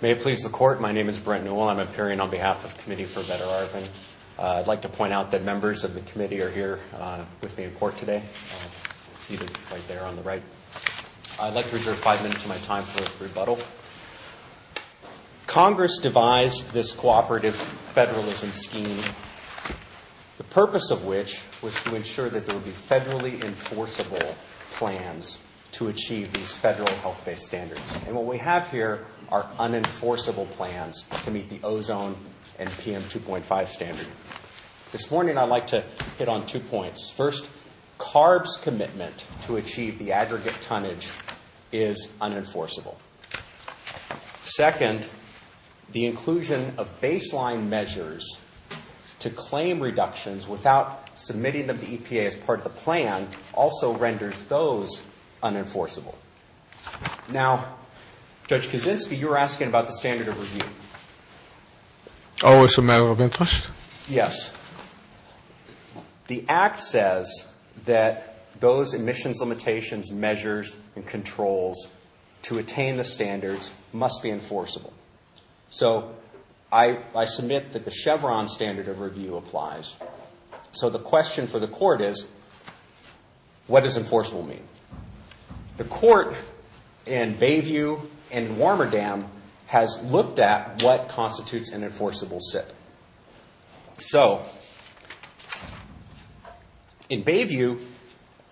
May it please the Court, my name is Brent Newell. I'm appearing on behalf of the Committee For A Better Arvin. I'd like to point out that members of the committee are here with me in court today, seated right there on the right. I'd like to reserve five minutes of my time for a rebuttal. Congress devised this cooperative federalism scheme, the purpose of which was to ensure that there would be federally enforceable plans to achieve these federal health-based standards. And what we have here are unenforceable plans to meet the ozone and PM 2.5 standard. This morning I'd like to hit on two points. First, CARB's commitment to achieve the aggregate tonnage is unenforceable. Second, the inclusion of baseline measures to claim reductions without submitting them to EPA as part of the plan also renders those unenforceable. Now, Judge Kaczynski, you were asking about the standard of review. Oh, it's a matter of interest? Yes. The Act says that those emissions limitations, measures, and controls to attain the standards must be enforceable. So I submit that the Chevron standard of review applies. So the question for the Court is, what does enforceable mean? The Court in Bayview and Warmerdam has looked at what constitutes an enforceable SIP. So in Bayview,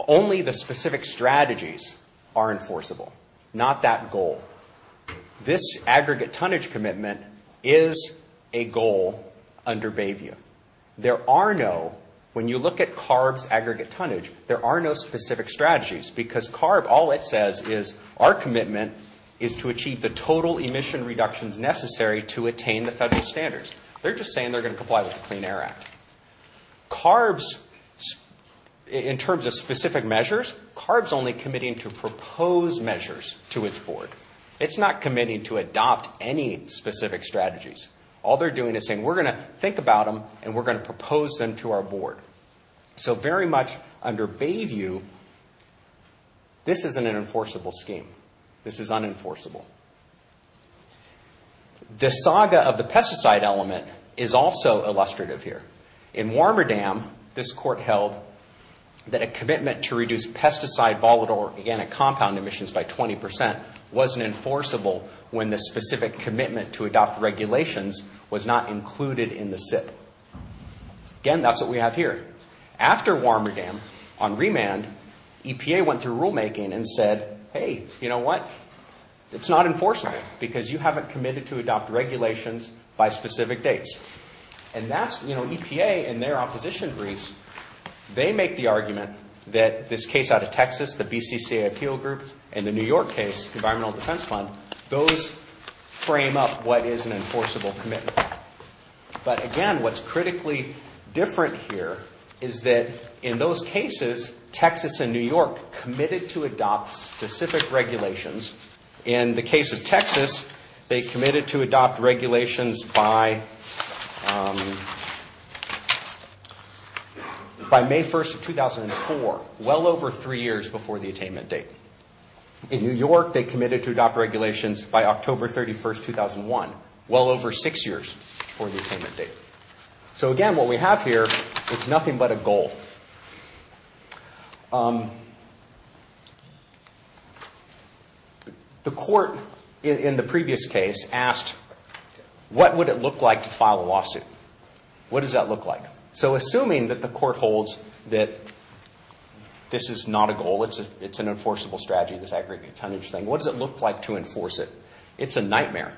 only the specific strategies are enforceable, not that goal. This aggregate tonnage commitment is a goal under Bayview. There are no, when you look at CARB's aggregate tonnage, there are no specific strategies, because CARB, all it says is our commitment is to achieve the total emission reductions necessary to attain the federal standards. They're just saying they're going to comply with the Clean Air Act. CARB's, in terms of specific measures, CARB's only committing to propose measures to its board. It's not committing to adopt any specific strategies. All they're doing is saying, we're going to think about them, and we're going to propose them to our board. So very much under Bayview, this isn't an enforceable scheme. This is unenforceable. The saga of the pesticide element is also illustrative here. In Warmerdam, this Court held that a commitment to reduce pesticide, volatile, or organic compound emissions by 20 percent wasn't enforceable when the specific commitment to adopt regulations was not included in the SIP. Again, that's what we have here. After Warmerdam, on remand, EPA went through rulemaking and said, hey, you know what? It's not enforceable, because you haven't committed to adopt regulations by specific dates. And that's, you know, EPA, in their opposition briefs, they make the argument that this case out of Texas, the BCCA Appeal Group, and the New York case, Environmental Defense Fund, those frame up what is an enforceable commitment. But again, what's critically different here is that in those cases, Texas and New York committed to adopt specific regulations. In the case of Texas, they committed to adopt regulations by May 1, 2004, well over three years before the attainment date. In New York, they committed to adopt regulations by October 31, 2001, well over six years before the attainment date. So again, what we have here is nothing but a goal. The court in the previous case asked, what would it look like to file a lawsuit? What does that look like? So assuming that the court holds that this is not a goal, it's an enforceable strategy, this aggregate tonnage thing, what does it look like to enforce it? It's a nightmare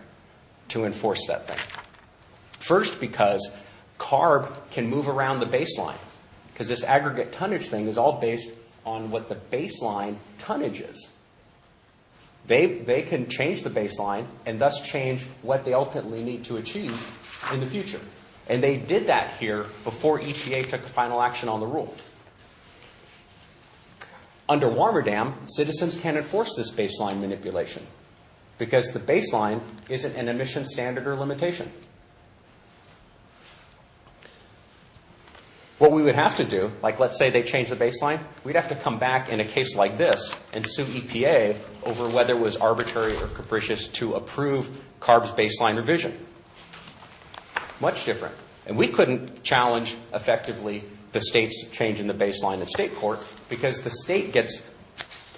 to enforce that thing. First, because CARB can move around the baseline, because this aggregate tonnage thing is all based on what the baseline tonnage is. They can change the baseline and thus change what they ultimately need to achieve in the future. And they did that here before EPA took a final action on the rule. Under Warmerdam, citizens can't enforce this baseline manipulation, because the baseline isn't an emission standard or limitation. What we would have to do, like let's say they change the baseline, we'd have to come back in a case like this and sue EPA over whether it was arbitrary or capricious to approve CARB's baseline revision. Much different. And we couldn't challenge effectively the state's change in the baseline in state court, because the state gets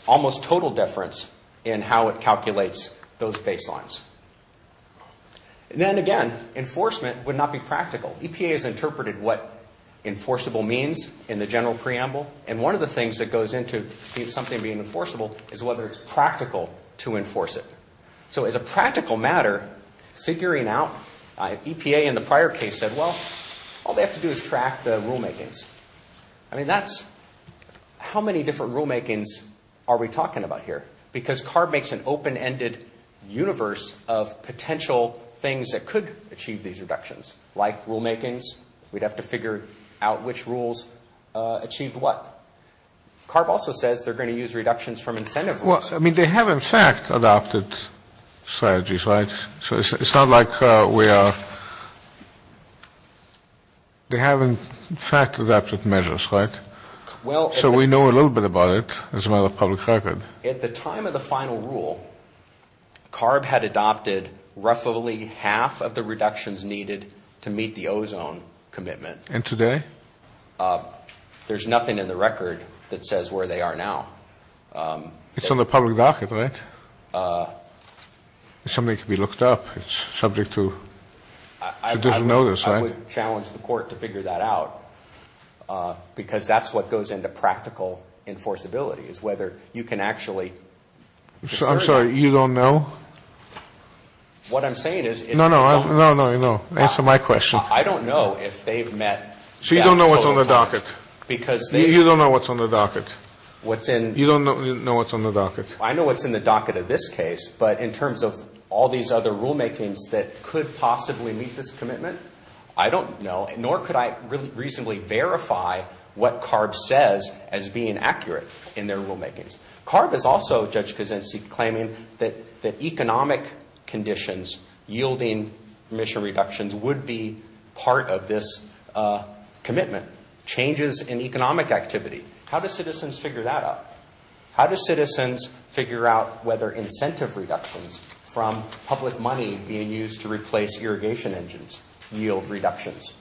almost total deference in how it calculates those baselines. And then again, enforcement would not be practical. EPA has interpreted what enforceable means in the general preamble, and one of the things that goes into something being enforceable is whether it's practical to enforce it. So as a practical matter, figuring out, EPA in the prior case said, well, all they have to do is track the rulemakings. I mean, that's, how many different rulemakings are we talking about here? Because CARB makes an open-ended universe of potential things that could achieve these reductions. Like rulemakings, we'd have to figure out which rules achieved what. CARB also says they're going to use reductions from incentive rules. Well, I mean, they have in fact adopted strategies, right? So it's not like we are, they have in fact adopted measures, right? So we know a little bit about it as a matter of public record. At the time of the final rule, CARB had adopted roughly half of the reductions needed to meet the ozone commitment. And today? There's nothing in the record that says where they are now. It's on the public docket, right? Something could be looked up. It's subject to judicial notice, right? I would challenge the court to figure that out because that's what goes into practical enforceability is whether you can actually discern it. I'm sorry. You don't know? What I'm saying is. No, no. No, no, no. Answer my question. I don't know if they've met. So you don't know what's on the docket? Because they. You don't know what's on the docket? What's in. You don't know what's on the docket? I know what's in the docket of this case. But in terms of all these other rulemakings that could possibly meet this commitment, I don't know. Nor could I reasonably verify what CARB says as being accurate in their rulemakings. CARB is also, Judge Kuczynski, claiming that economic conditions yielding emission reductions would be part of this commitment. Changes in economic activity. How do citizens figure that out? How do citizens figure out whether incentive reductions from public money being used to replace irrigation engines yield reductions?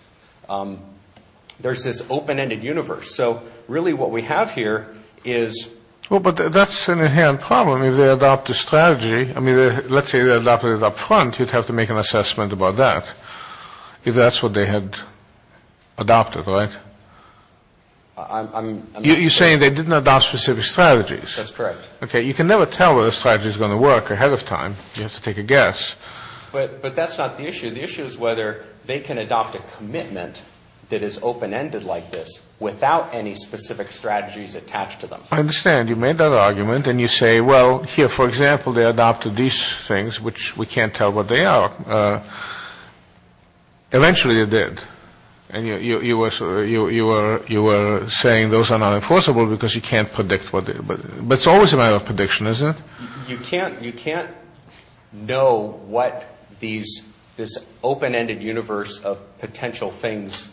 There's this open-ended universe. So really what we have here is. Well, but that's an inherent problem. If they adopt a strategy. I mean, let's say they adopted it up front. You'd have to make an assessment about that. If that's what they had adopted, right? You're saying they didn't adopt specific strategies. That's correct. Okay. You can never tell whether a strategy is going to work ahead of time. You have to take a guess. But that's not the issue. The issue is whether they can adopt a commitment that is open-ended like this without any specific strategies attached to them. I understand. You made that argument. And you say, well, here, for example, they adopted these things, which we can't tell what they are. Eventually they did. And you were saying those are not enforceable because you can't predict. But it's always a matter of prediction, isn't it? You can't know what this open-ended universe of potential things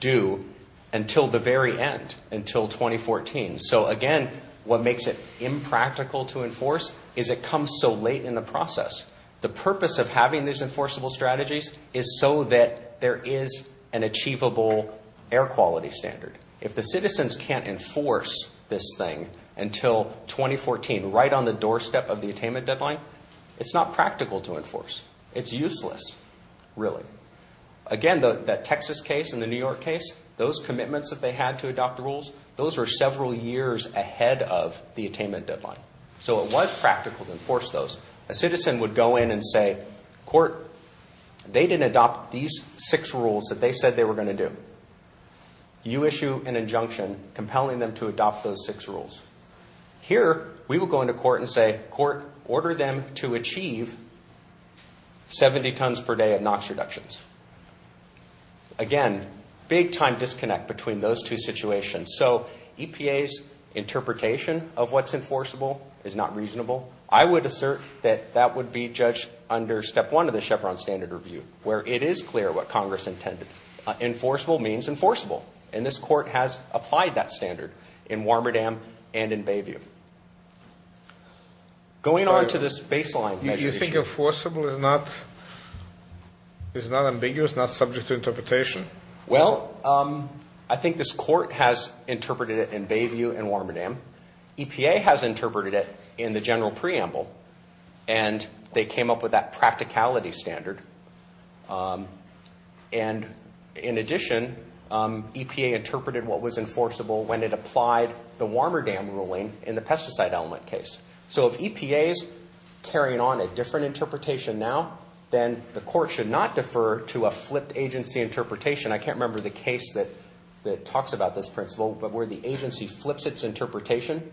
do until the very end, until 2014. So, again, what makes it impractical to enforce is it comes so late in the process. The purpose of having these enforceable strategies is so that there is an achievable air quality standard. If the citizens can't enforce this thing until 2014, right on the doorstep of the attainment deadline, it's not practical to enforce. It's useless, really. Again, that Texas case and the New York case, those commitments that they had to adopt rules, those were several years ahead of the attainment deadline. So it was practical to enforce those. A citizen would go in and say, court, they didn't adopt these six rules that they said they were going to do. You issue an injunction compelling them to adopt those six rules. Here, we would go into court and say, court, order them to achieve 70 tons per day of NOx reductions. Again, big-time disconnect between those two situations. So EPA's interpretation of what's enforceable is not reasonable. I would assert that that would be judged under Step 1 of the Chevron Standard Review, where it is clear what Congress intended. Enforceable means enforceable. And this Court has applied that standard in Warmerdam and in Bayview. Going on to this baseline measure issue. You think enforceable is not ambiguous, not subject to interpretation? Well, I think this Court has interpreted it in Bayview and Warmerdam. EPA has interpreted it in the general preamble, and they came up with that practicality standard. And in addition, EPA interpreted what was enforceable when it applied the Warmerdam ruling in the pesticide element case. So if EPA is carrying on a different interpretation now, then the Court should not defer to a flipped agency interpretation. I can't remember the case that talks about this principle, but where the agency flips its interpretation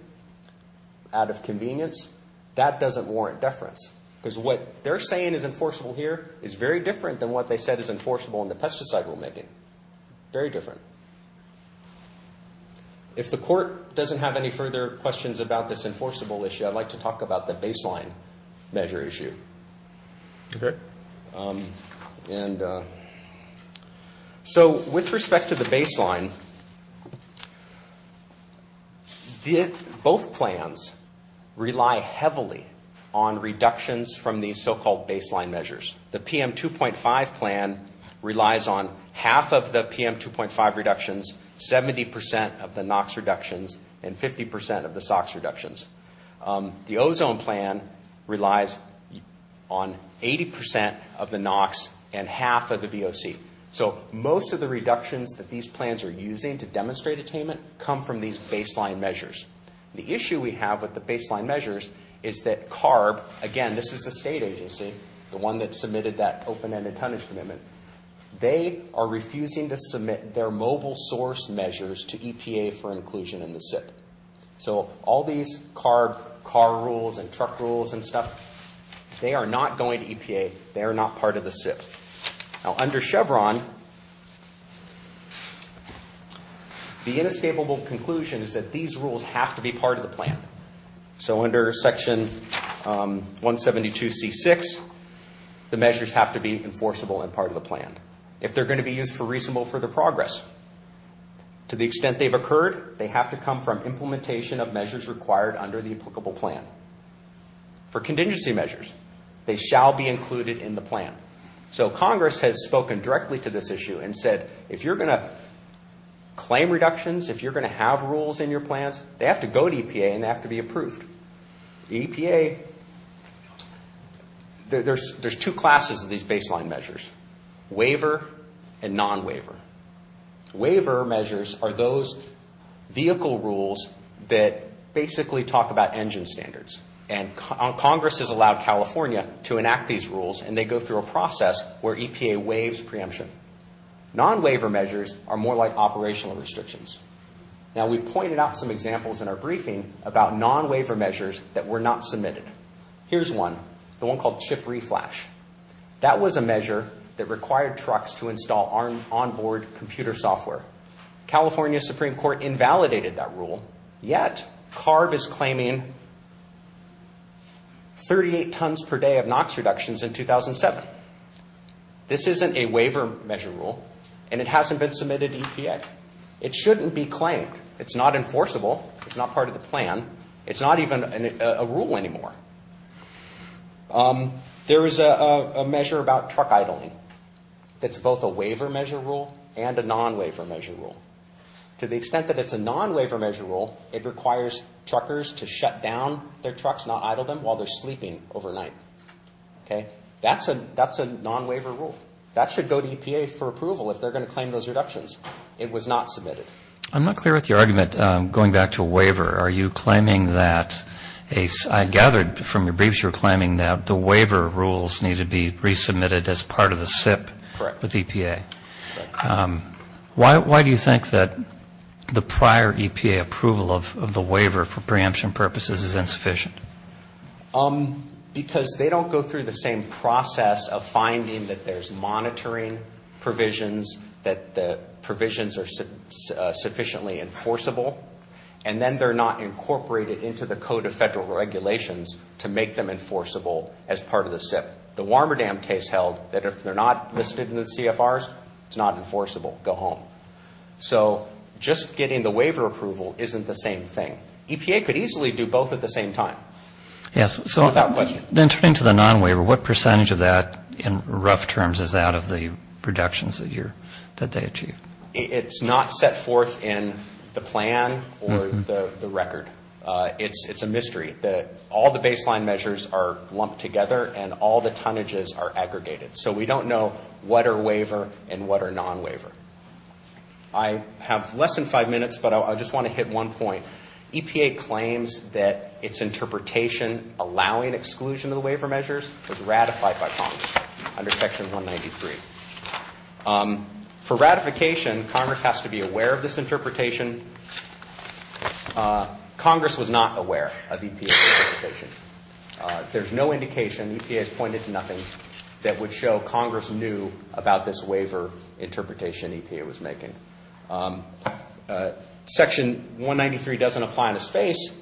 out of convenience, that doesn't warrant deference. Because what they're saying is enforceable here is very different than what they said is enforceable in the pesticide rulemaking. Very different. If the Court doesn't have any further questions about this enforceable issue, I'd like to talk about the baseline measure issue. Okay. And so with respect to the baseline, both plans rely heavily on reductions from these so-called baseline measures. The PM2.5 plan relies on half of the PM2.5 reductions, 70 percent of the NOx reductions, and 50 percent of the SOx reductions. The ozone plan relies on 80 percent of the NOx and half of the BOC. So most of the reductions that these plans are using to demonstrate attainment come from these baseline measures. The issue we have with the baseline measures is that CARB, again, this is the state agency, the one that submitted that open-ended tonnage commitment, they are refusing to submit their mobile source measures to EPA for inclusion in the SIP. So all these CARB car rules and truck rules and stuff, they are not going to EPA. They are not part of the SIP. Now, under Chevron, the inescapable conclusion is that these rules have to be part of the plan. So under Section 172C6, the measures have to be enforceable and part of the plan. If they are going to be used for reasonable further progress, to the extent they have occurred, they have to come from implementation of measures required under the applicable plan. For contingency measures, they shall be included in the plan. So Congress has spoken directly to this issue and said, if you are going to claim reductions, if you are going to have rules in your plans, they have to go to EPA and they have to be approved. EPA, there are two classes of these baseline measures, waiver and non-waiver. Waiver measures are those vehicle rules that basically talk about engine standards. And Congress has allowed California to enact these rules and they go through a process where EPA waives preemption. Non-waiver measures are more like operational restrictions. Now, we've pointed out some examples in our briefing about non-waiver measures that were not submitted. Here's one, the one called chip reflash. That was a measure that required trucks to install on-board computer software. California Supreme Court invalidated that rule, yet CARB is claiming 38 tons per day of NOx reductions in 2007. This isn't a waiver measure rule and it hasn't been submitted to EPA. It shouldn't be claimed. It's not enforceable. It's not part of the plan. It's not even a rule anymore. There is a measure about truck idling that's both a waiver measure rule and a non-waiver measure rule. To the extent that it's a non-waiver measure rule, it requires truckers to shut down their trucks, not idle them, while they're sleeping overnight. That's a non-waiver rule. That should go to EPA for approval if they're going to claim those reductions. It was not submitted. I'm not clear with your argument going back to a waiver. Are you claiming that a ‑‑ I gathered from your briefs you were claiming that the waiver rules need to be resubmitted as part of the SIP with EPA. Correct. Why do you think that the prior EPA approval of the waiver for preemption purposes is insufficient? Because they don't go through the same process of finding that there's monitoring provisions, that the provisions are sufficiently enforceable, and then they're not incorporated into the Code of Federal Regulations to make them enforceable as part of the SIP. The Warmerdam case held that if they're not listed in the CFRs, it's not enforceable. Go home. So just getting the waiver approval isn't the same thing. EPA could easily do both at the same time. Yes. Without question. Then turning to the non-waiver, what percentage of that in rough terms is out of the reductions that they achieved? It's not set forth in the plan or the record. It's a mystery. All the baseline measures are lumped together, and all the tonnages are aggregated. So we don't know what are waiver and what are non-waiver. I have less than five minutes, but I just want to hit one point. EPA claims that its interpretation allowing exclusion of the waiver measures was ratified by Congress under Section 193. For ratification, Congress has to be aware of this interpretation. Congress was not aware of EPA's interpretation. There's no indication, EPA has pointed to nothing, that would show Congress knew about this waiver interpretation EPA was making. Section 193 doesn't apply in its face,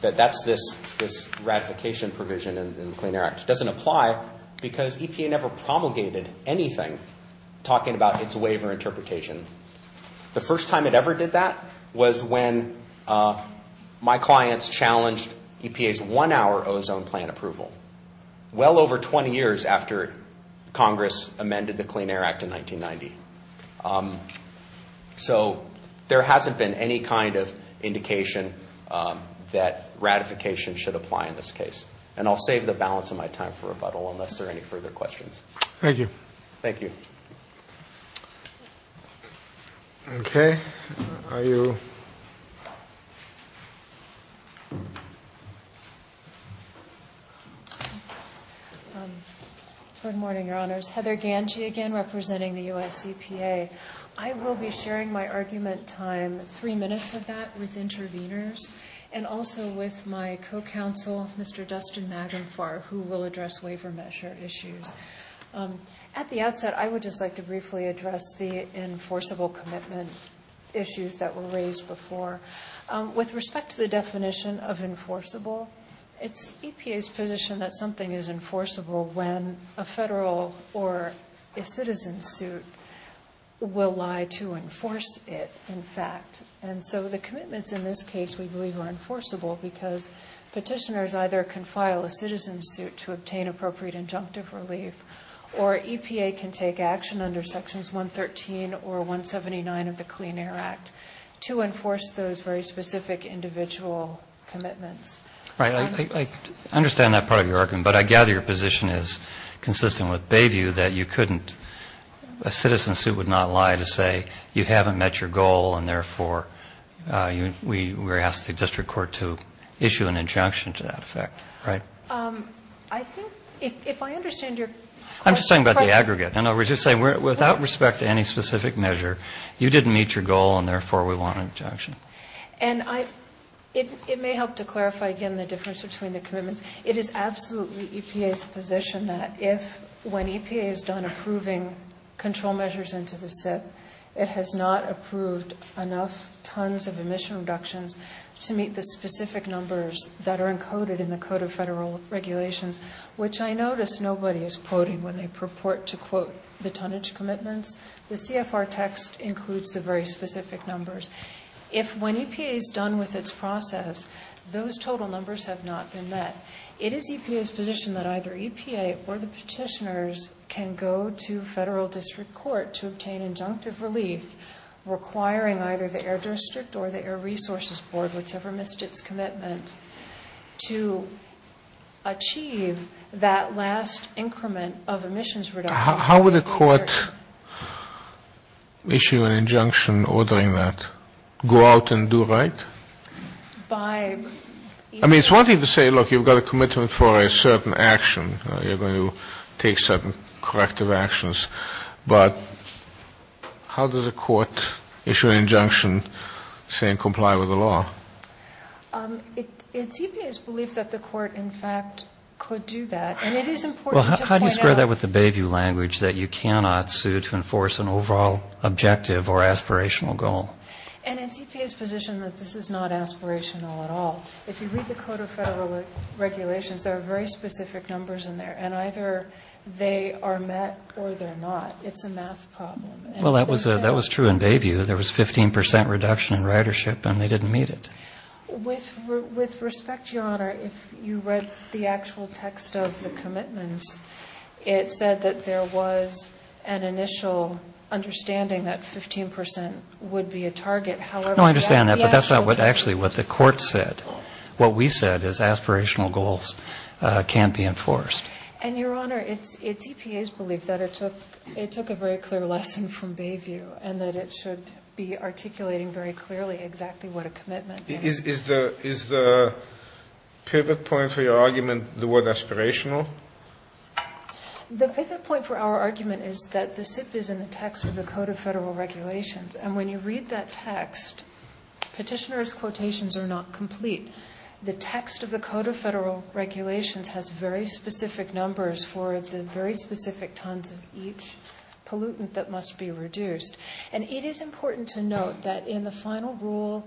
that that's this ratification provision in the Clean Air Act. It doesn't apply because EPA never promulgated anything talking about its waiver interpretation. The first time it ever did that was when my clients challenged EPA's one-hour ozone plan approval, well over 20 years after Congress amended the Clean Air Act in 1990. So there hasn't been any kind of indication that ratification should apply in this case. And I'll save the balance of my time for rebuttal unless there are any further questions. Thank you. Thank you. Okay. Are you? Good morning, Your Honors. Heather Ganji again representing the U.S. EPA. I will be sharing my argument time, three minutes of that, with interveners, and also with my co-counsel, Mr. Dustin Magenfar, who will address waiver measure issues. At the outset, I would just like to briefly address the enforceable commitment issues that were raised before. With respect to the definition of enforceable, it's EPA's position that something is enforceable when a federal or a citizen suit will lie to enforce it, in fact. And so the commitments in this case, we believe, are enforceable because petitioners either can file a citizen suit to obtain appropriate injunctive relief, or EPA can take action under Sections 113 or 179 of the Clean Air Act to enforce those very specific individual commitments. Right. I understand that part of your argument, but I gather your position is consistent with Bayview that you couldn't, a citizen suit would not lie to say you haven't met your goal, and therefore we ask the district court to issue an injunction to that effect, right? I think, if I understand your question... I'm just talking about the aggregate, and I was just saying without respect to any specific measure, you didn't meet your goal, and therefore we want an injunction. And it may help to clarify again the difference between the commitments. It is absolutely EPA's position that if, when EPA is done approving control measures into the SIP, it has not approved enough tons of emission reductions to meet the specific numbers that are encoded in the Code of Federal Regulations, which I notice nobody is quoting when they purport to quote the tonnage commitments. The CFR text includes the very specific numbers. If, when EPA is done with its process, those total numbers have not been met, it is EPA's position that either EPA or the petitioners can go to federal district court to obtain injunctive relief requiring either the Air District or the Air Resources Board, whichever missed its commitment, to achieve that last increment of emissions reductions. How would a court issue an injunction ordering that? Go out and do right? By... I mean, it's one thing to say, look, you've got a commitment for a certain action. You're going to take certain corrective actions. But how does a court issue an injunction saying comply with the law? It's EPA's belief that the court, in fact, could do that. And it is important to point out... Well, how do you square that with the Bayview language, that you cannot sue to enforce an overall objective or aspirational goal? And it's EPA's position that this is not aspirational at all. If you read the Code of Federal Regulations, there are very specific numbers in there. And either they are met or they're not. It's a math problem. Well, that was true in Bayview. There was a 15% reduction in ridership, and they didn't meet it. With respect, Your Honor, if you read the actual text of the commitments, it said that there was an initial understanding that 15% would be a target. No, I understand that, but that's not actually what the court said. What we said is aspirational goals can't be enforced. And, Your Honor, it's EPA's belief that it took a very clear lesson from Bayview and that it should be articulating very clearly exactly what a commitment is. Is the pivot point for your argument the word aspirational? The pivot point for our argument is that the SIP is in the text of the Code of Federal And when you read that text, petitioner's quotations are not complete. The text of the Code of Federal Regulations has very specific numbers for the very specific tons of each pollutant that must be reduced. And it is important to note that in the final rule,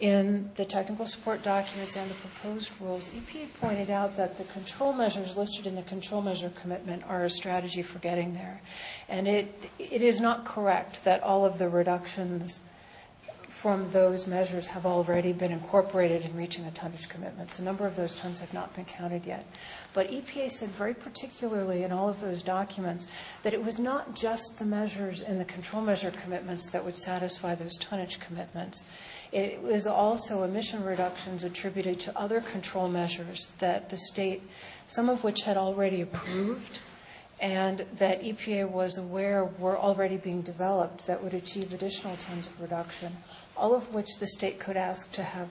in the technical support documents and the proposed rules, EPA pointed out that the control measures listed in the control measure commitment are a strategy for getting there. And it is not correct that all of the reductions from those measures have already been incorporated in reaching the tonnage commitments. A number of those tons have not been counted yet. But EPA said very particularly in all of those documents that it was not just the measures in the control measure commitments that would satisfy those tonnage commitments. It was also emission reductions attributed to other control measures that the state, some of which had already approved and that EPA was aware were already being developed that would achieve additional tons of reduction, all of which the state could ask to have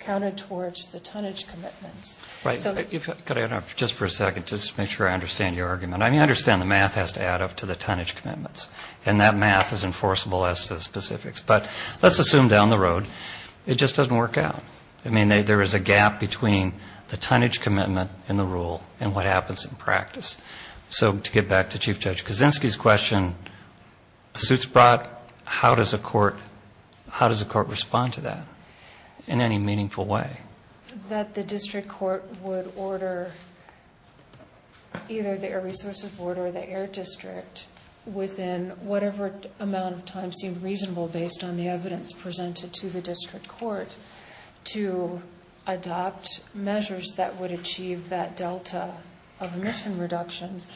counted towards the tonnage commitments. Right. Could I interrupt just for a second just to make sure I understand your argument? I mean, I understand the math has to add up to the tonnage commitments. And that math is enforceable as to the specifics. But let's assume down the road it just doesn't work out. I mean, there is a gap between the tonnage commitment in the rule and what happens in practice. So to get back to Chief Judge Kaczynski's question, suits brought, how does a court respond to that in any meaningful way? That the district court would order either the Air Resource Support or the Air District within whatever amount of time seemed reasonable based on the evidence presented to the district court to adopt measures that would achieve that delta of emission reductions,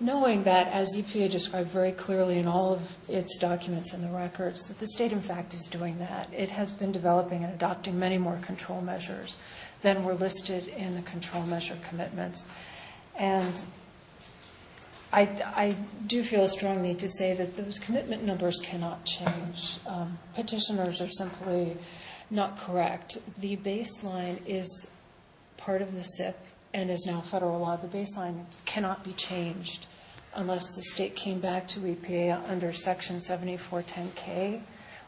knowing that, as EPA described very clearly in all of its documents and the records, that the state, in fact, is doing that. It has been developing and adopting many more control measures than were listed in the control measure commitments. And I do feel strongly to say that those commitment numbers cannot change. And petitioners are simply not correct. The baseline is part of the SIP and is now federal law. The baseline cannot be changed unless the state came back to EPA under Section 7410K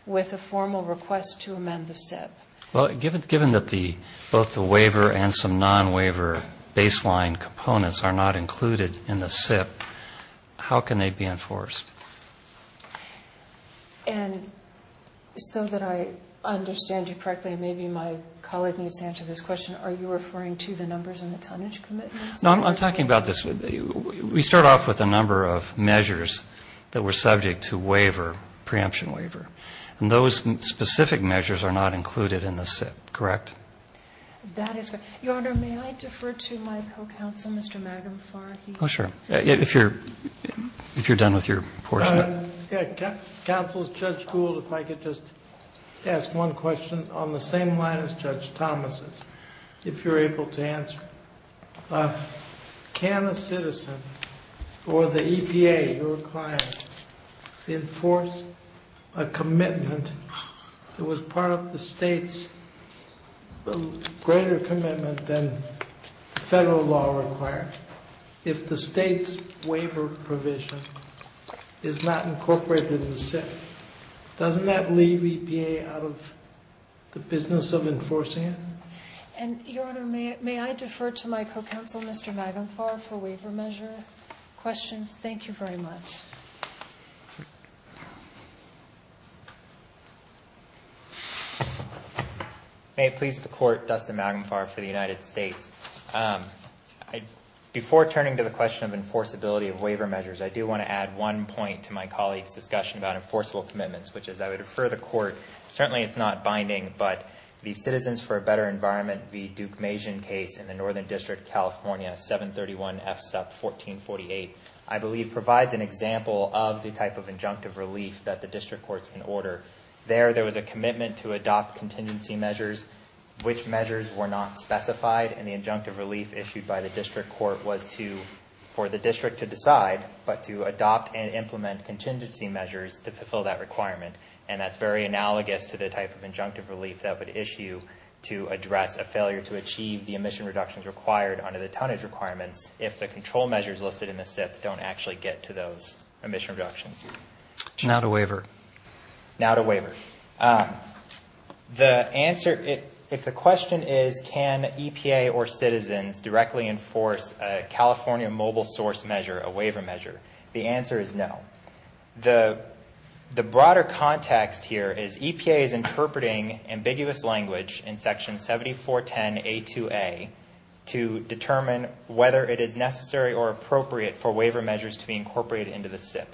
with a formal request to amend the SIP. Well, given that both the waiver and some non-waiver baseline components are not included in the SIP, how can they be enforced? And so that I understand you correctly, and maybe my colleague needs to answer this question, are you referring to the numbers in the tonnage commitments? No, I'm talking about this. We start off with a number of measures that were subject to waiver, preemption waiver. And those specific measures are not included in the SIP, correct? That is correct. Your Honor, may I defer to my co-counsel, Mr. Magumfar? Oh, sure. If you're done with your portion. Counsel, Judge Gould, if I could just ask one question on the same line as Judge Thomas's, if you're able to answer. Can a citizen or the EPA, your client, enforce a commitment that was part of the state's greater commitment than federal law required? If the state's waiver provision is not incorporated in the SIP, doesn't that leave EPA out of the business of enforcing it? And, Your Honor, may I defer to my co-counsel, Mr. Magumfar, for waiver measure questions? Thank you very much. May it please the Court, Dustin Magumfar for the United States. Before turning to the question of enforceability of waiver measures, I do want to add one point to my colleague's discussion about enforceable commitments, which is I would refer the Court, certainly it's not binding, but the Citizens for a Better Environment v. Duke Mason case in the Northern District, California, 731 FSUP 1448, I believe provides an example of the type of injunctive relief that the district courts can order. There, there was a commitment to adopt contingency measures, which measures were not specified in the injunctive relief issued by the district court was to, for the district to decide, but to adopt and implement contingency measures to fulfill that requirement. And that's very analogous to the type of injunctive relief that would issue to address a failure to achieve the emission reductions required under the tonnage requirements if the control measures listed in the SIP don't actually get to those emission reductions. Now to waiver. Now to waiver. The answer, if the question is can EPA or citizens directly enforce a California mobile source measure, a waiver measure, the answer is no. The broader context here is EPA is interpreting ambiguous language in Section 7410A2A to determine whether it is necessary or appropriate for waiver measures to be incorporated into the SIP.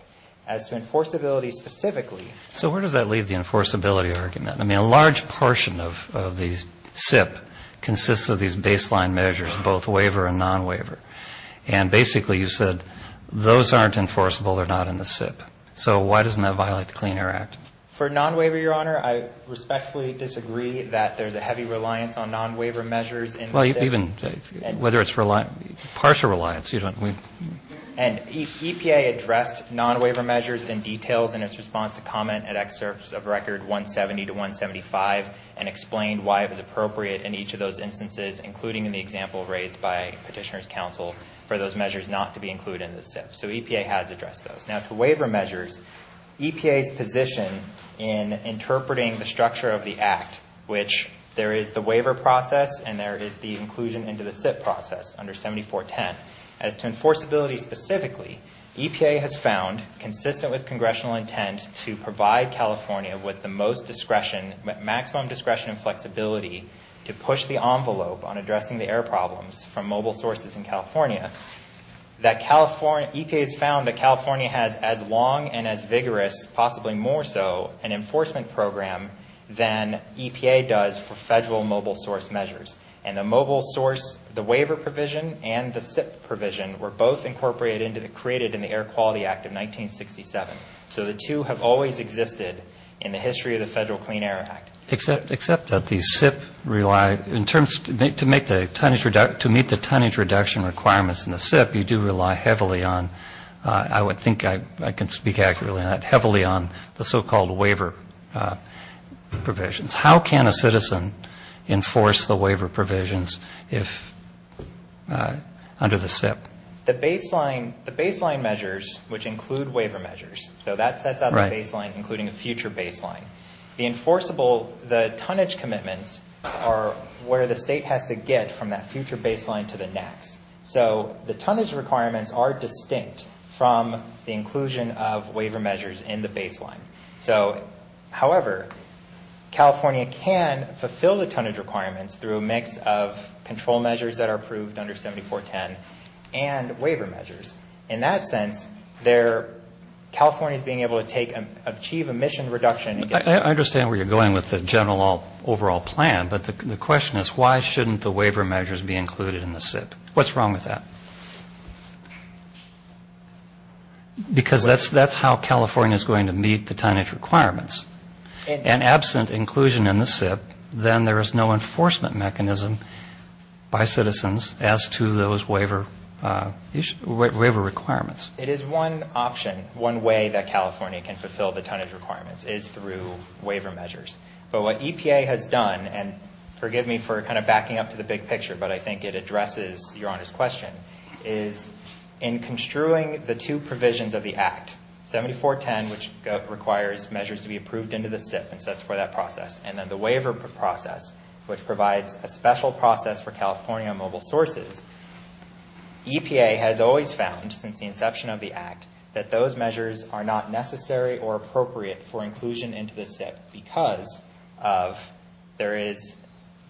As to enforceability specifically. So where does that leave the enforceability argument? I mean, a large portion of the SIP consists of these baseline measures, both waiver and non-waiver. And basically you said those aren't enforceable, they're not in the SIP. So why doesn't that violate the Clean Air Act? For non-waiver, Your Honor, I respectfully disagree that there's a heavy reliance on non-waiver measures in the SIP. Well, even whether it's partial reliance. And EPA addressed non-waiver measures in details in its response to comment at excerpts of Record 170 to 175 and explained why it was appropriate in each of those instances, including in the example raised by Petitioner's Counsel, for those measures not to be included in the SIP. So EPA has addressed those. Now to waiver measures, EPA's position in interpreting the structure of the Act, which there is the waiver process and there is the inclusion into the SIP process under 7410. As to enforceability specifically, EPA has found, consistent with congressional intent, to provide California with the most discretion, maximum discretion and flexibility, to push the envelope on addressing the air problems from mobile sources in California. EPA has found that California has as long and as vigorous, possibly more so, an enforcement program than EPA does for federal mobile source measures. And the mobile source, the waiver provision and the SIP provision were both incorporated and created in the Air Quality Act of 1967. So the two have always existed in the history of the Federal Clean Air Act. Except that the SIP relied, in terms, to meet the tonnage reduction requirements in the SIP, you do rely heavily on, I would think I can speak accurately on that, heavily on the so-called waiver provisions. How can a citizen enforce the waiver provisions under the SIP? The baseline measures, which include waiver measures, so that sets out the baseline, including a future baseline. The enforceable, the tonnage commitments are where the state has to get from that future baseline to the next. So the tonnage requirements are distinct from the inclusion of waiver measures in the baseline. So, however, California can fulfill the tonnage requirements through a mix of control measures that are approved under 7410 and waiver measures. In that sense, California is being able to achieve emission reduction. I understand where you're going with the general overall plan, but the question is why shouldn't the waiver measures be included in the SIP? What's wrong with that? Because that's how California is going to meet the tonnage requirements. And absent inclusion in the SIP, then there is no enforcement mechanism by citizens as to those waiver requirements. It is one option, one way that California can fulfill the tonnage requirements is through waiver measures. But what EPA has done, and forgive me for kind of backing up to the big picture, but I think it addresses Your Honor's question, is in construing the two provisions of the Act, 7410, which requires measures to be approved into the SIP and sets for that process, and then the waiver process, which provides a special process for California mobile sources, EPA has always found since the inception of the Act that those measures are not necessary or appropriate for inclusion into the SIP because of there is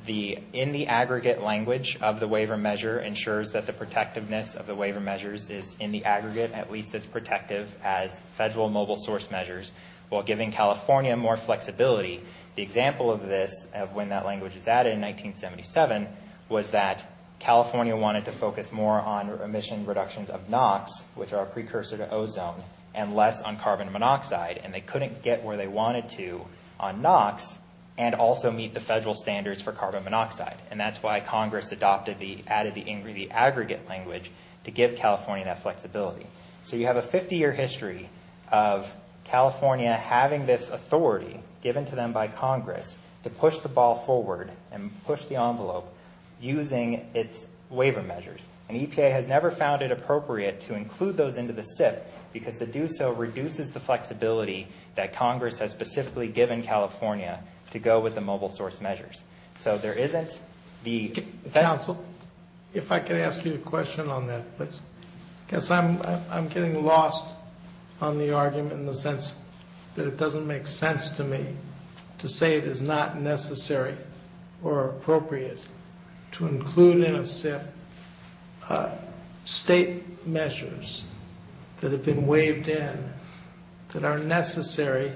the in the aggregate language of the waiver measure ensures that the protectiveness of the waiver measures is in the aggregate, at least as protective as federal mobile source measures. While giving California more flexibility, the example of this, of when that language was added in 1977, was that California wanted to focus more on emission reductions of NOx, which are a precursor to ozone, and less on carbon monoxide, and they couldn't get where they wanted to on NOx and also meet the federal standards for carbon monoxide. And that's why Congress adopted the, added the aggregate language to give California that flexibility. So you have a 50-year history of California having this authority given to them by Congress to push the ball forward and push the envelope using its waiver measures. And EPA has never found it appropriate to include those into the SIP because to do so reduces the flexibility that Congress has specifically given California to go with the mobile source measures. So there isn't the... Counsel, if I could ask you a question on that, please. Because I'm getting lost on the argument in the sense that it doesn't make sense to me to say it is not necessary or appropriate to include in a SIP state measures that have been waived in that are necessary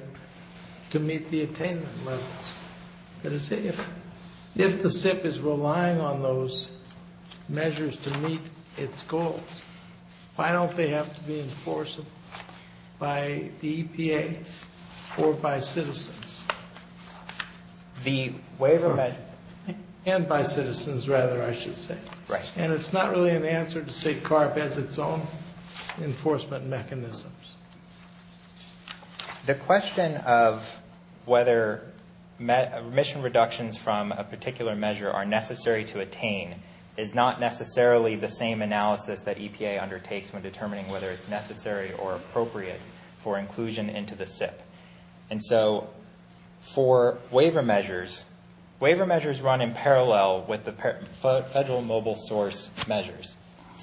to meet the attainment levels. If the SIP is relying on those measures to meet its goals, why don't they have to be enforced by the EPA or by citizens? The waiver... And by citizens, rather, I should say. Right. And it's not really an answer to say CARP has its own enforcement mechanisms. The question of whether mission reductions from a particular measure are necessary to attain is not necessarily the same analysis that EPA undertakes when determining whether it's necessary or appropriate for inclusion into the SIP. And so for waiver measures, waiver measures run in parallel with the federal mobile source measures.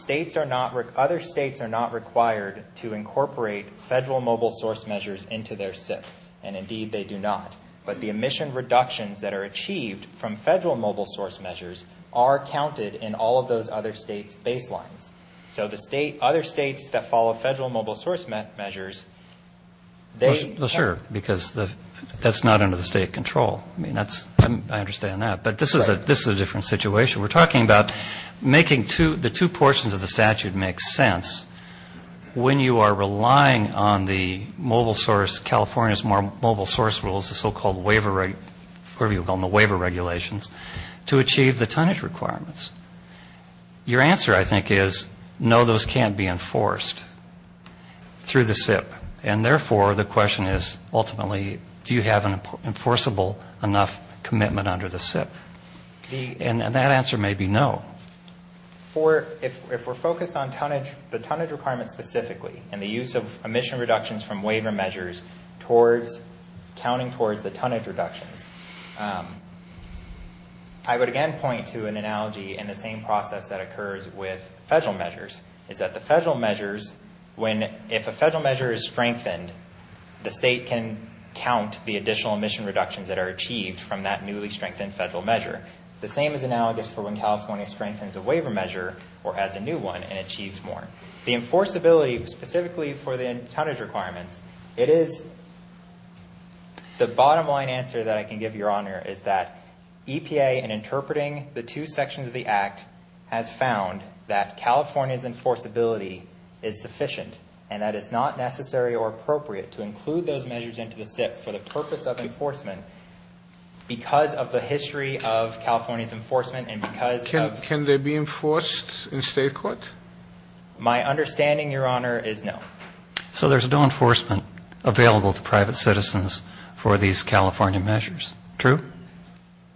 Other states are not required to incorporate federal mobile source measures into their SIP, and indeed they do not. But the mission reductions that are achieved from federal mobile source measures are counted in all of those other states' baselines. So the other states that follow federal mobile source measures, they... Well, sure, because that's not under the state control. I mean, I understand that. But this is a different situation. We're talking about making the two portions of the statute make sense when you are relying on the California's mobile source rules, the so-called waiver regulations, to achieve the tonnage requirements. Your answer, I think, is no, those can't be enforced through the SIP. And therefore, the question is ultimately, do you have an enforceable enough commitment under the SIP? And that answer may be no. If we're focused on the tonnage requirements specifically and the use of emission reductions from waiver measures counting towards the tonnage reductions, I would again point to an analogy in the same process that occurs with federal measures, is that the federal measures, if a federal measure is strengthened, the state can count the additional emission reductions that are achieved from that newly strengthened federal measure. The same is analogous for when California strengthens a waiver measure or adds a new one and achieves more. The enforceability specifically for the tonnage requirements, it is the bottom-line answer that I can give, Your Honor, is that EPA, in interpreting the two sections of the Act, has found that California's enforceability is sufficient and that it's not necessary or appropriate to include those measures into the SIP for the purpose of enforcement because of the history of California's enforcement and because of the ---- Can they be enforced in state court? My understanding, Your Honor, is no. So there's no enforcement available to private citizens for these California measures. True?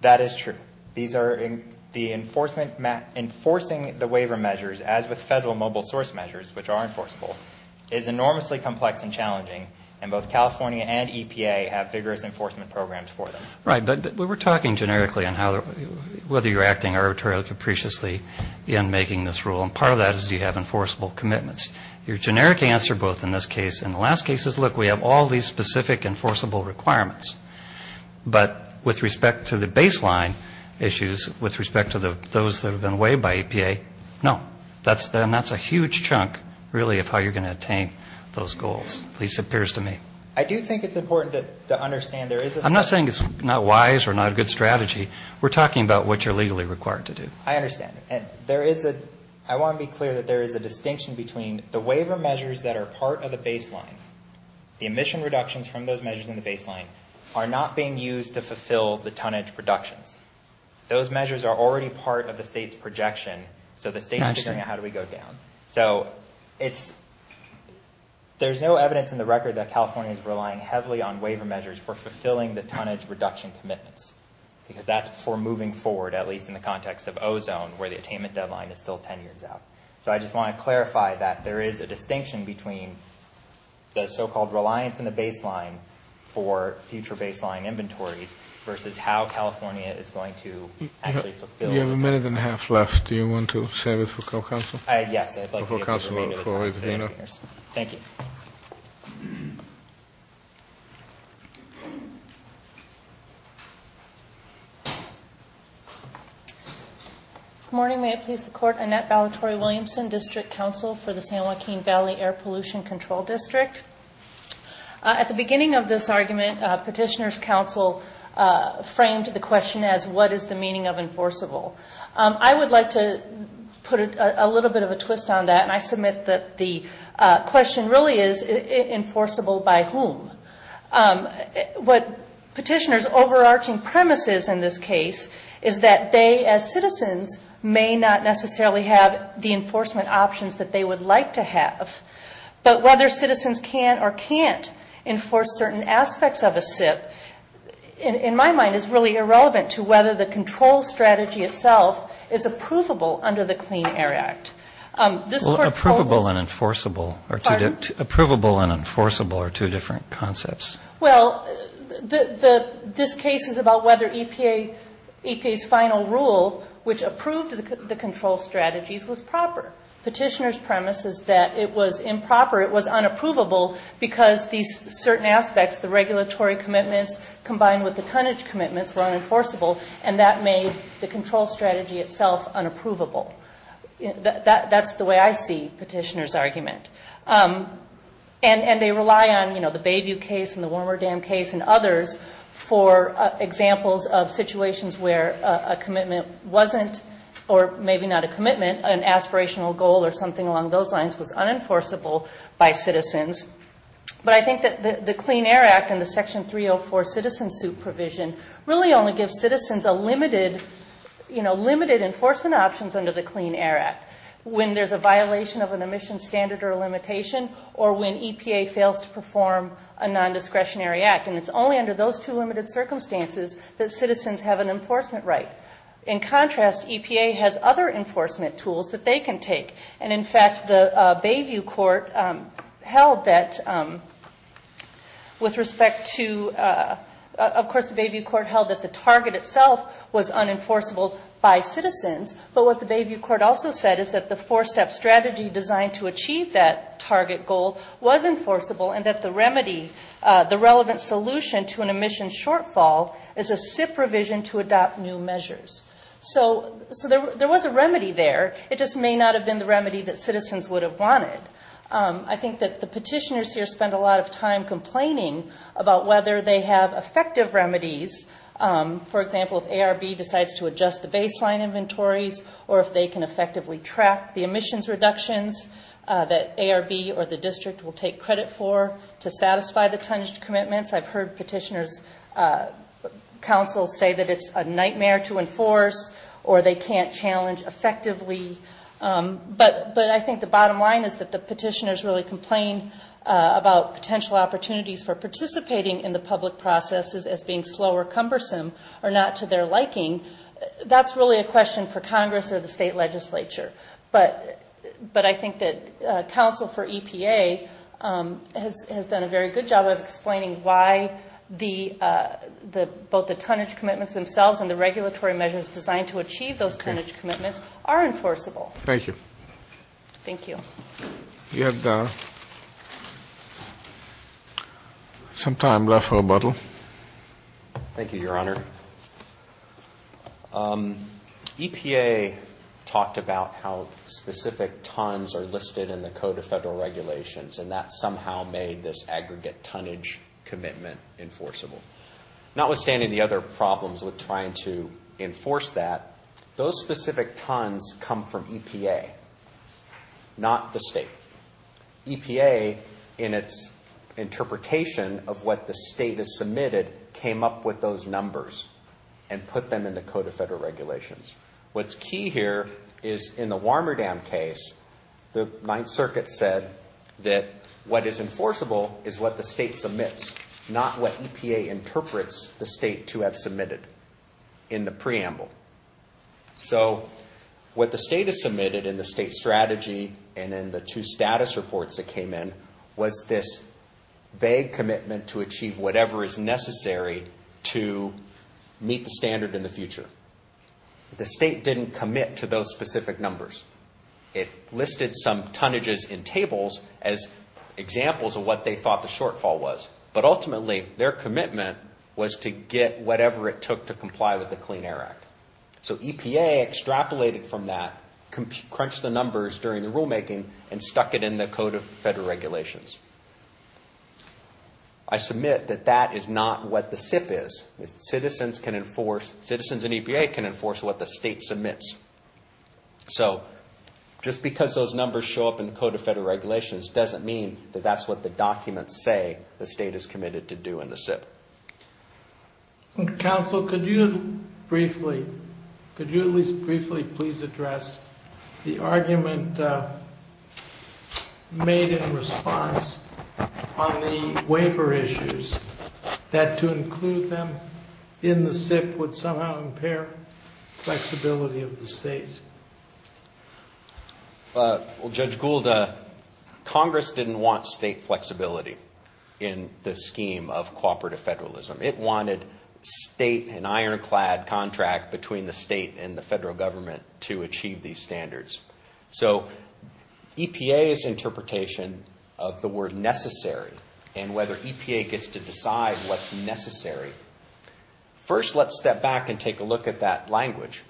That is true. These are the enforcement ---- enforcing the waiver measures, as with federal mobile source measures, which are enforceable, is enormously complex and challenging, and both California and EPA have vigorous enforcement programs for them. Right. But we were talking generically on whether you're acting arbitrarily, capriciously in making this rule, and part of that is do you have enforceable commitments. Your generic answer both in this case and the last case is, look, we have all these specific enforceable requirements, but with respect to the baseline issues, with respect to those that have been waived by EPA, no. And that's a huge chunk, really, of how you're going to attain those goals, at least it appears to me. I do think it's important to understand there is a ---- I'm not saying it's not wise or not a good strategy. We're talking about what you're legally required to do. I understand. And there is a ---- I want to be clear that there is a distinction between the waiver measures that are part of the baseline, the emission reductions from those measures in the baseline, are not being used to fulfill the tonnage reductions. Those measures are already part of the state's projection, so the state is figuring out how do we go down. So it's ---- there's no evidence in the record that California is relying heavily on waiver measures for fulfilling the tonnage reduction commitments, because that's before moving forward, at least in the context of ozone, where the attainment deadline is still 10 years out. So I just want to clarify that there is a distinction between the so-called reliance in the baseline for future baseline inventories versus how California is going to actually fulfill ---- You have a minute and a half left. Do you want to save it for counsel? Yes. I'd like to give the remainder of the time to Dana. Thank you. Good morning. May it please the Court. Annette Ballatore-Williamson, District Counsel for the San Joaquin Valley Air Pollution Control District. At the beginning of this argument, Petitioner's Counsel framed the question as what is the meaning of enforceable. I would like to put a little bit of a twist on that, and I submit that the question really is enforceable by whom. What Petitioner's overarching premise is in this case is that they, as citizens, may not necessarily have the enforcement options that they would like to have. But whether citizens can or can't enforce certain aspects of a SIP, in my mind, is really irrelevant to whether the control strategy itself is approvable under the Clean Air Act. This Court's focus ---- Approvable and enforceable are two different concepts. Well, this case is about whether EPA's final rule, which approved the control strategies, was proper. Petitioner's premise is that it was improper, it was unapprovable, because these certain aspects, the regulatory commitments combined with the tonnage commitments, were unenforceable, and that made the control strategy itself unapprovable. That's the way I see Petitioner's argument. And they rely on, you know, the Bayview case and the Warmer Dam case and others for examples of situations where a commitment wasn't, or maybe not a commitment, an aspirational goal or something along those lines was unenforceable by citizens. But I think that the Clean Air Act and the Section 304 citizen suit provision really only gives citizens a limited, you know, limited enforcement options under the Clean Air Act, when there's a violation of an emission standard or a limitation, or when EPA fails to perform a nondiscretionary act. And it's only under those two limited circumstances that citizens have an enforcement right. In contrast, EPA has other enforcement tools that they can take. And, in fact, the Bayview court held that with respect to, of course, the Bayview court held that the target itself was unenforceable by citizens, but what the Bayview court also said is that the four-step strategy designed to achieve that target goal was enforceable and that the remedy, the relevant solution to an emission shortfall, is a SIP revision to adopt new measures. So there was a remedy there, it just may not have been the remedy that citizens would have wanted. I think that the petitioners here spend a lot of time complaining about whether they have effective remedies. For example, if ARB decides to adjust the baseline inventories, or if they can effectively track the emissions reductions that ARB or the district will take credit for to satisfy the tongued commitments, I've heard petitioners, counsel say that it's a nightmare to enforce or they can't challenge effectively. But I think the bottom line is that the petitioners really complain about potential opportunities for participating in the public processes as being slow or cumbersome or not to their liking. That's really a question for Congress or the state legislature. But I think that counsel for EPA has done a very good job of explaining why both the tonnage commitments themselves and the regulatory measures designed to achieve those tonnage commitments are enforceable. Thank you. You have some time left for rebuttal. Thank you, Your Honor. EPA talked about how specific tons are listed in the Code of Federal Regulations, and that somehow made this aggregate tonnage commitment enforceable. Notwithstanding the other problems with trying to enforce that, those specific tons come from EPA, not the state. EPA, in its interpretation of what the state has submitted, came up with those numbers and put them in the Code of Federal Regulations. What's key here is in the Warmerdam case, the Ninth Circuit said that what is enforceable is what the state submits, not what EPA interprets the state to have submitted in the preamble. So what the state has submitted in the state strategy and in the two status reports that came in was this vague commitment to achieve whatever is necessary to meet the standard in the future. The state didn't commit to those specific numbers. It listed some tonnages in tables as examples of what they thought the shortfall was. But ultimately, their commitment was to get whatever it took to comply with the Clean Air Act. So EPA extrapolated from that, crunched the numbers during the rulemaking, and stuck it in the Code of Federal Regulations. I submit that that is not what the SIP is. Citizens in EPA can enforce what the state submits. So just because those numbers show up in the Code of Federal Regulations doesn't mean that that's what the documents say the state is committed to do in the SIP. Counsel, could you briefly, could you at least briefly please address the argument made in response on the waiver issues that to include them in the SIP would somehow impair flexibility of the SIP? Well, Judge Gould, Congress didn't want state flexibility in the scheme of cooperative federalism. It wanted state, an ironclad contract between the state and the federal government to achieve these standards. So EPA's interpretation of the word necessary, and whether EPA gets to decide what's necessary, first let's step back and take a look at that language.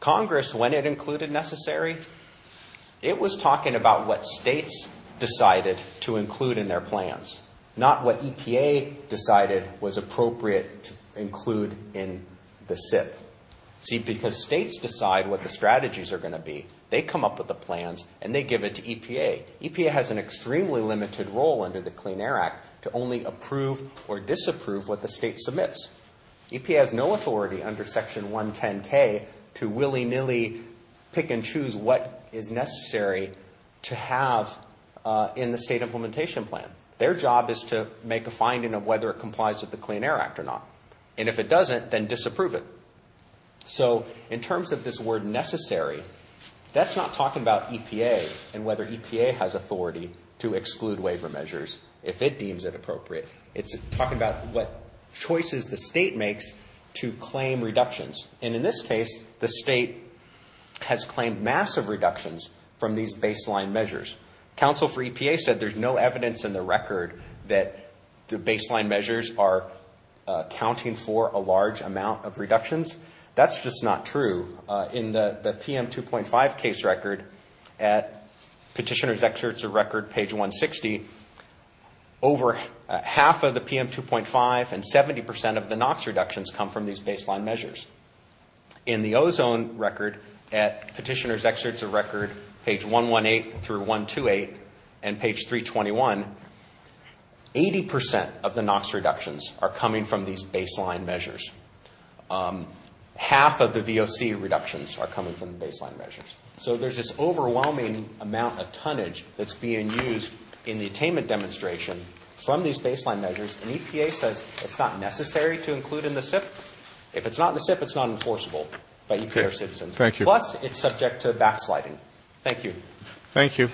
Congress, when it included necessary, it was talking about what states decided to include in their plans, not what EPA decided was appropriate to include in the SIP. See, because states decide what the strategies are going to be. They come up with the plans and they give it to EPA. EPA has an extremely limited role under the Clean Air Act to only approve or disapprove what the state submits. EPA has no authority under Section 110K to willy-nilly pick and choose what is necessary to have in the state implementation plan. Their job is to make a finding of whether it complies with the Clean Air Act or not. And if it doesn't, then disapprove it. So in terms of this word necessary, that's not talking about EPA and whether EPA has authority to exclude waiver measures if it deems it appropriate. It's talking about what choices the state makes to claim reductions. And in this case, the state has claimed massive reductions from these baseline measures. Council for EPA said there's no evidence in the record that the baseline measures are accounting for a large amount of reductions. That's just not true. In the PM2.5 case record at Petitioner's Excerpts of Record, page 160, over half of the PM2.5 and 70 percent of the NOx reductions come from these baseline measures. In the ozone record at Petitioner's Excerpts of Record, page 118 through 128, and page 321, 80 percent of the NOx reductions are coming from these baseline measures. Half of the VOC reductions are coming from the baseline measures. So there's this overwhelming amount of tonnage that's being used in the attainment demonstration from these baseline measures, and EPA says it's not necessary to include in the SIP. If it's not in the SIP, it's not enforceable by EPA or citizens. Plus, it's subject to backsliding. Thank you. Thank you.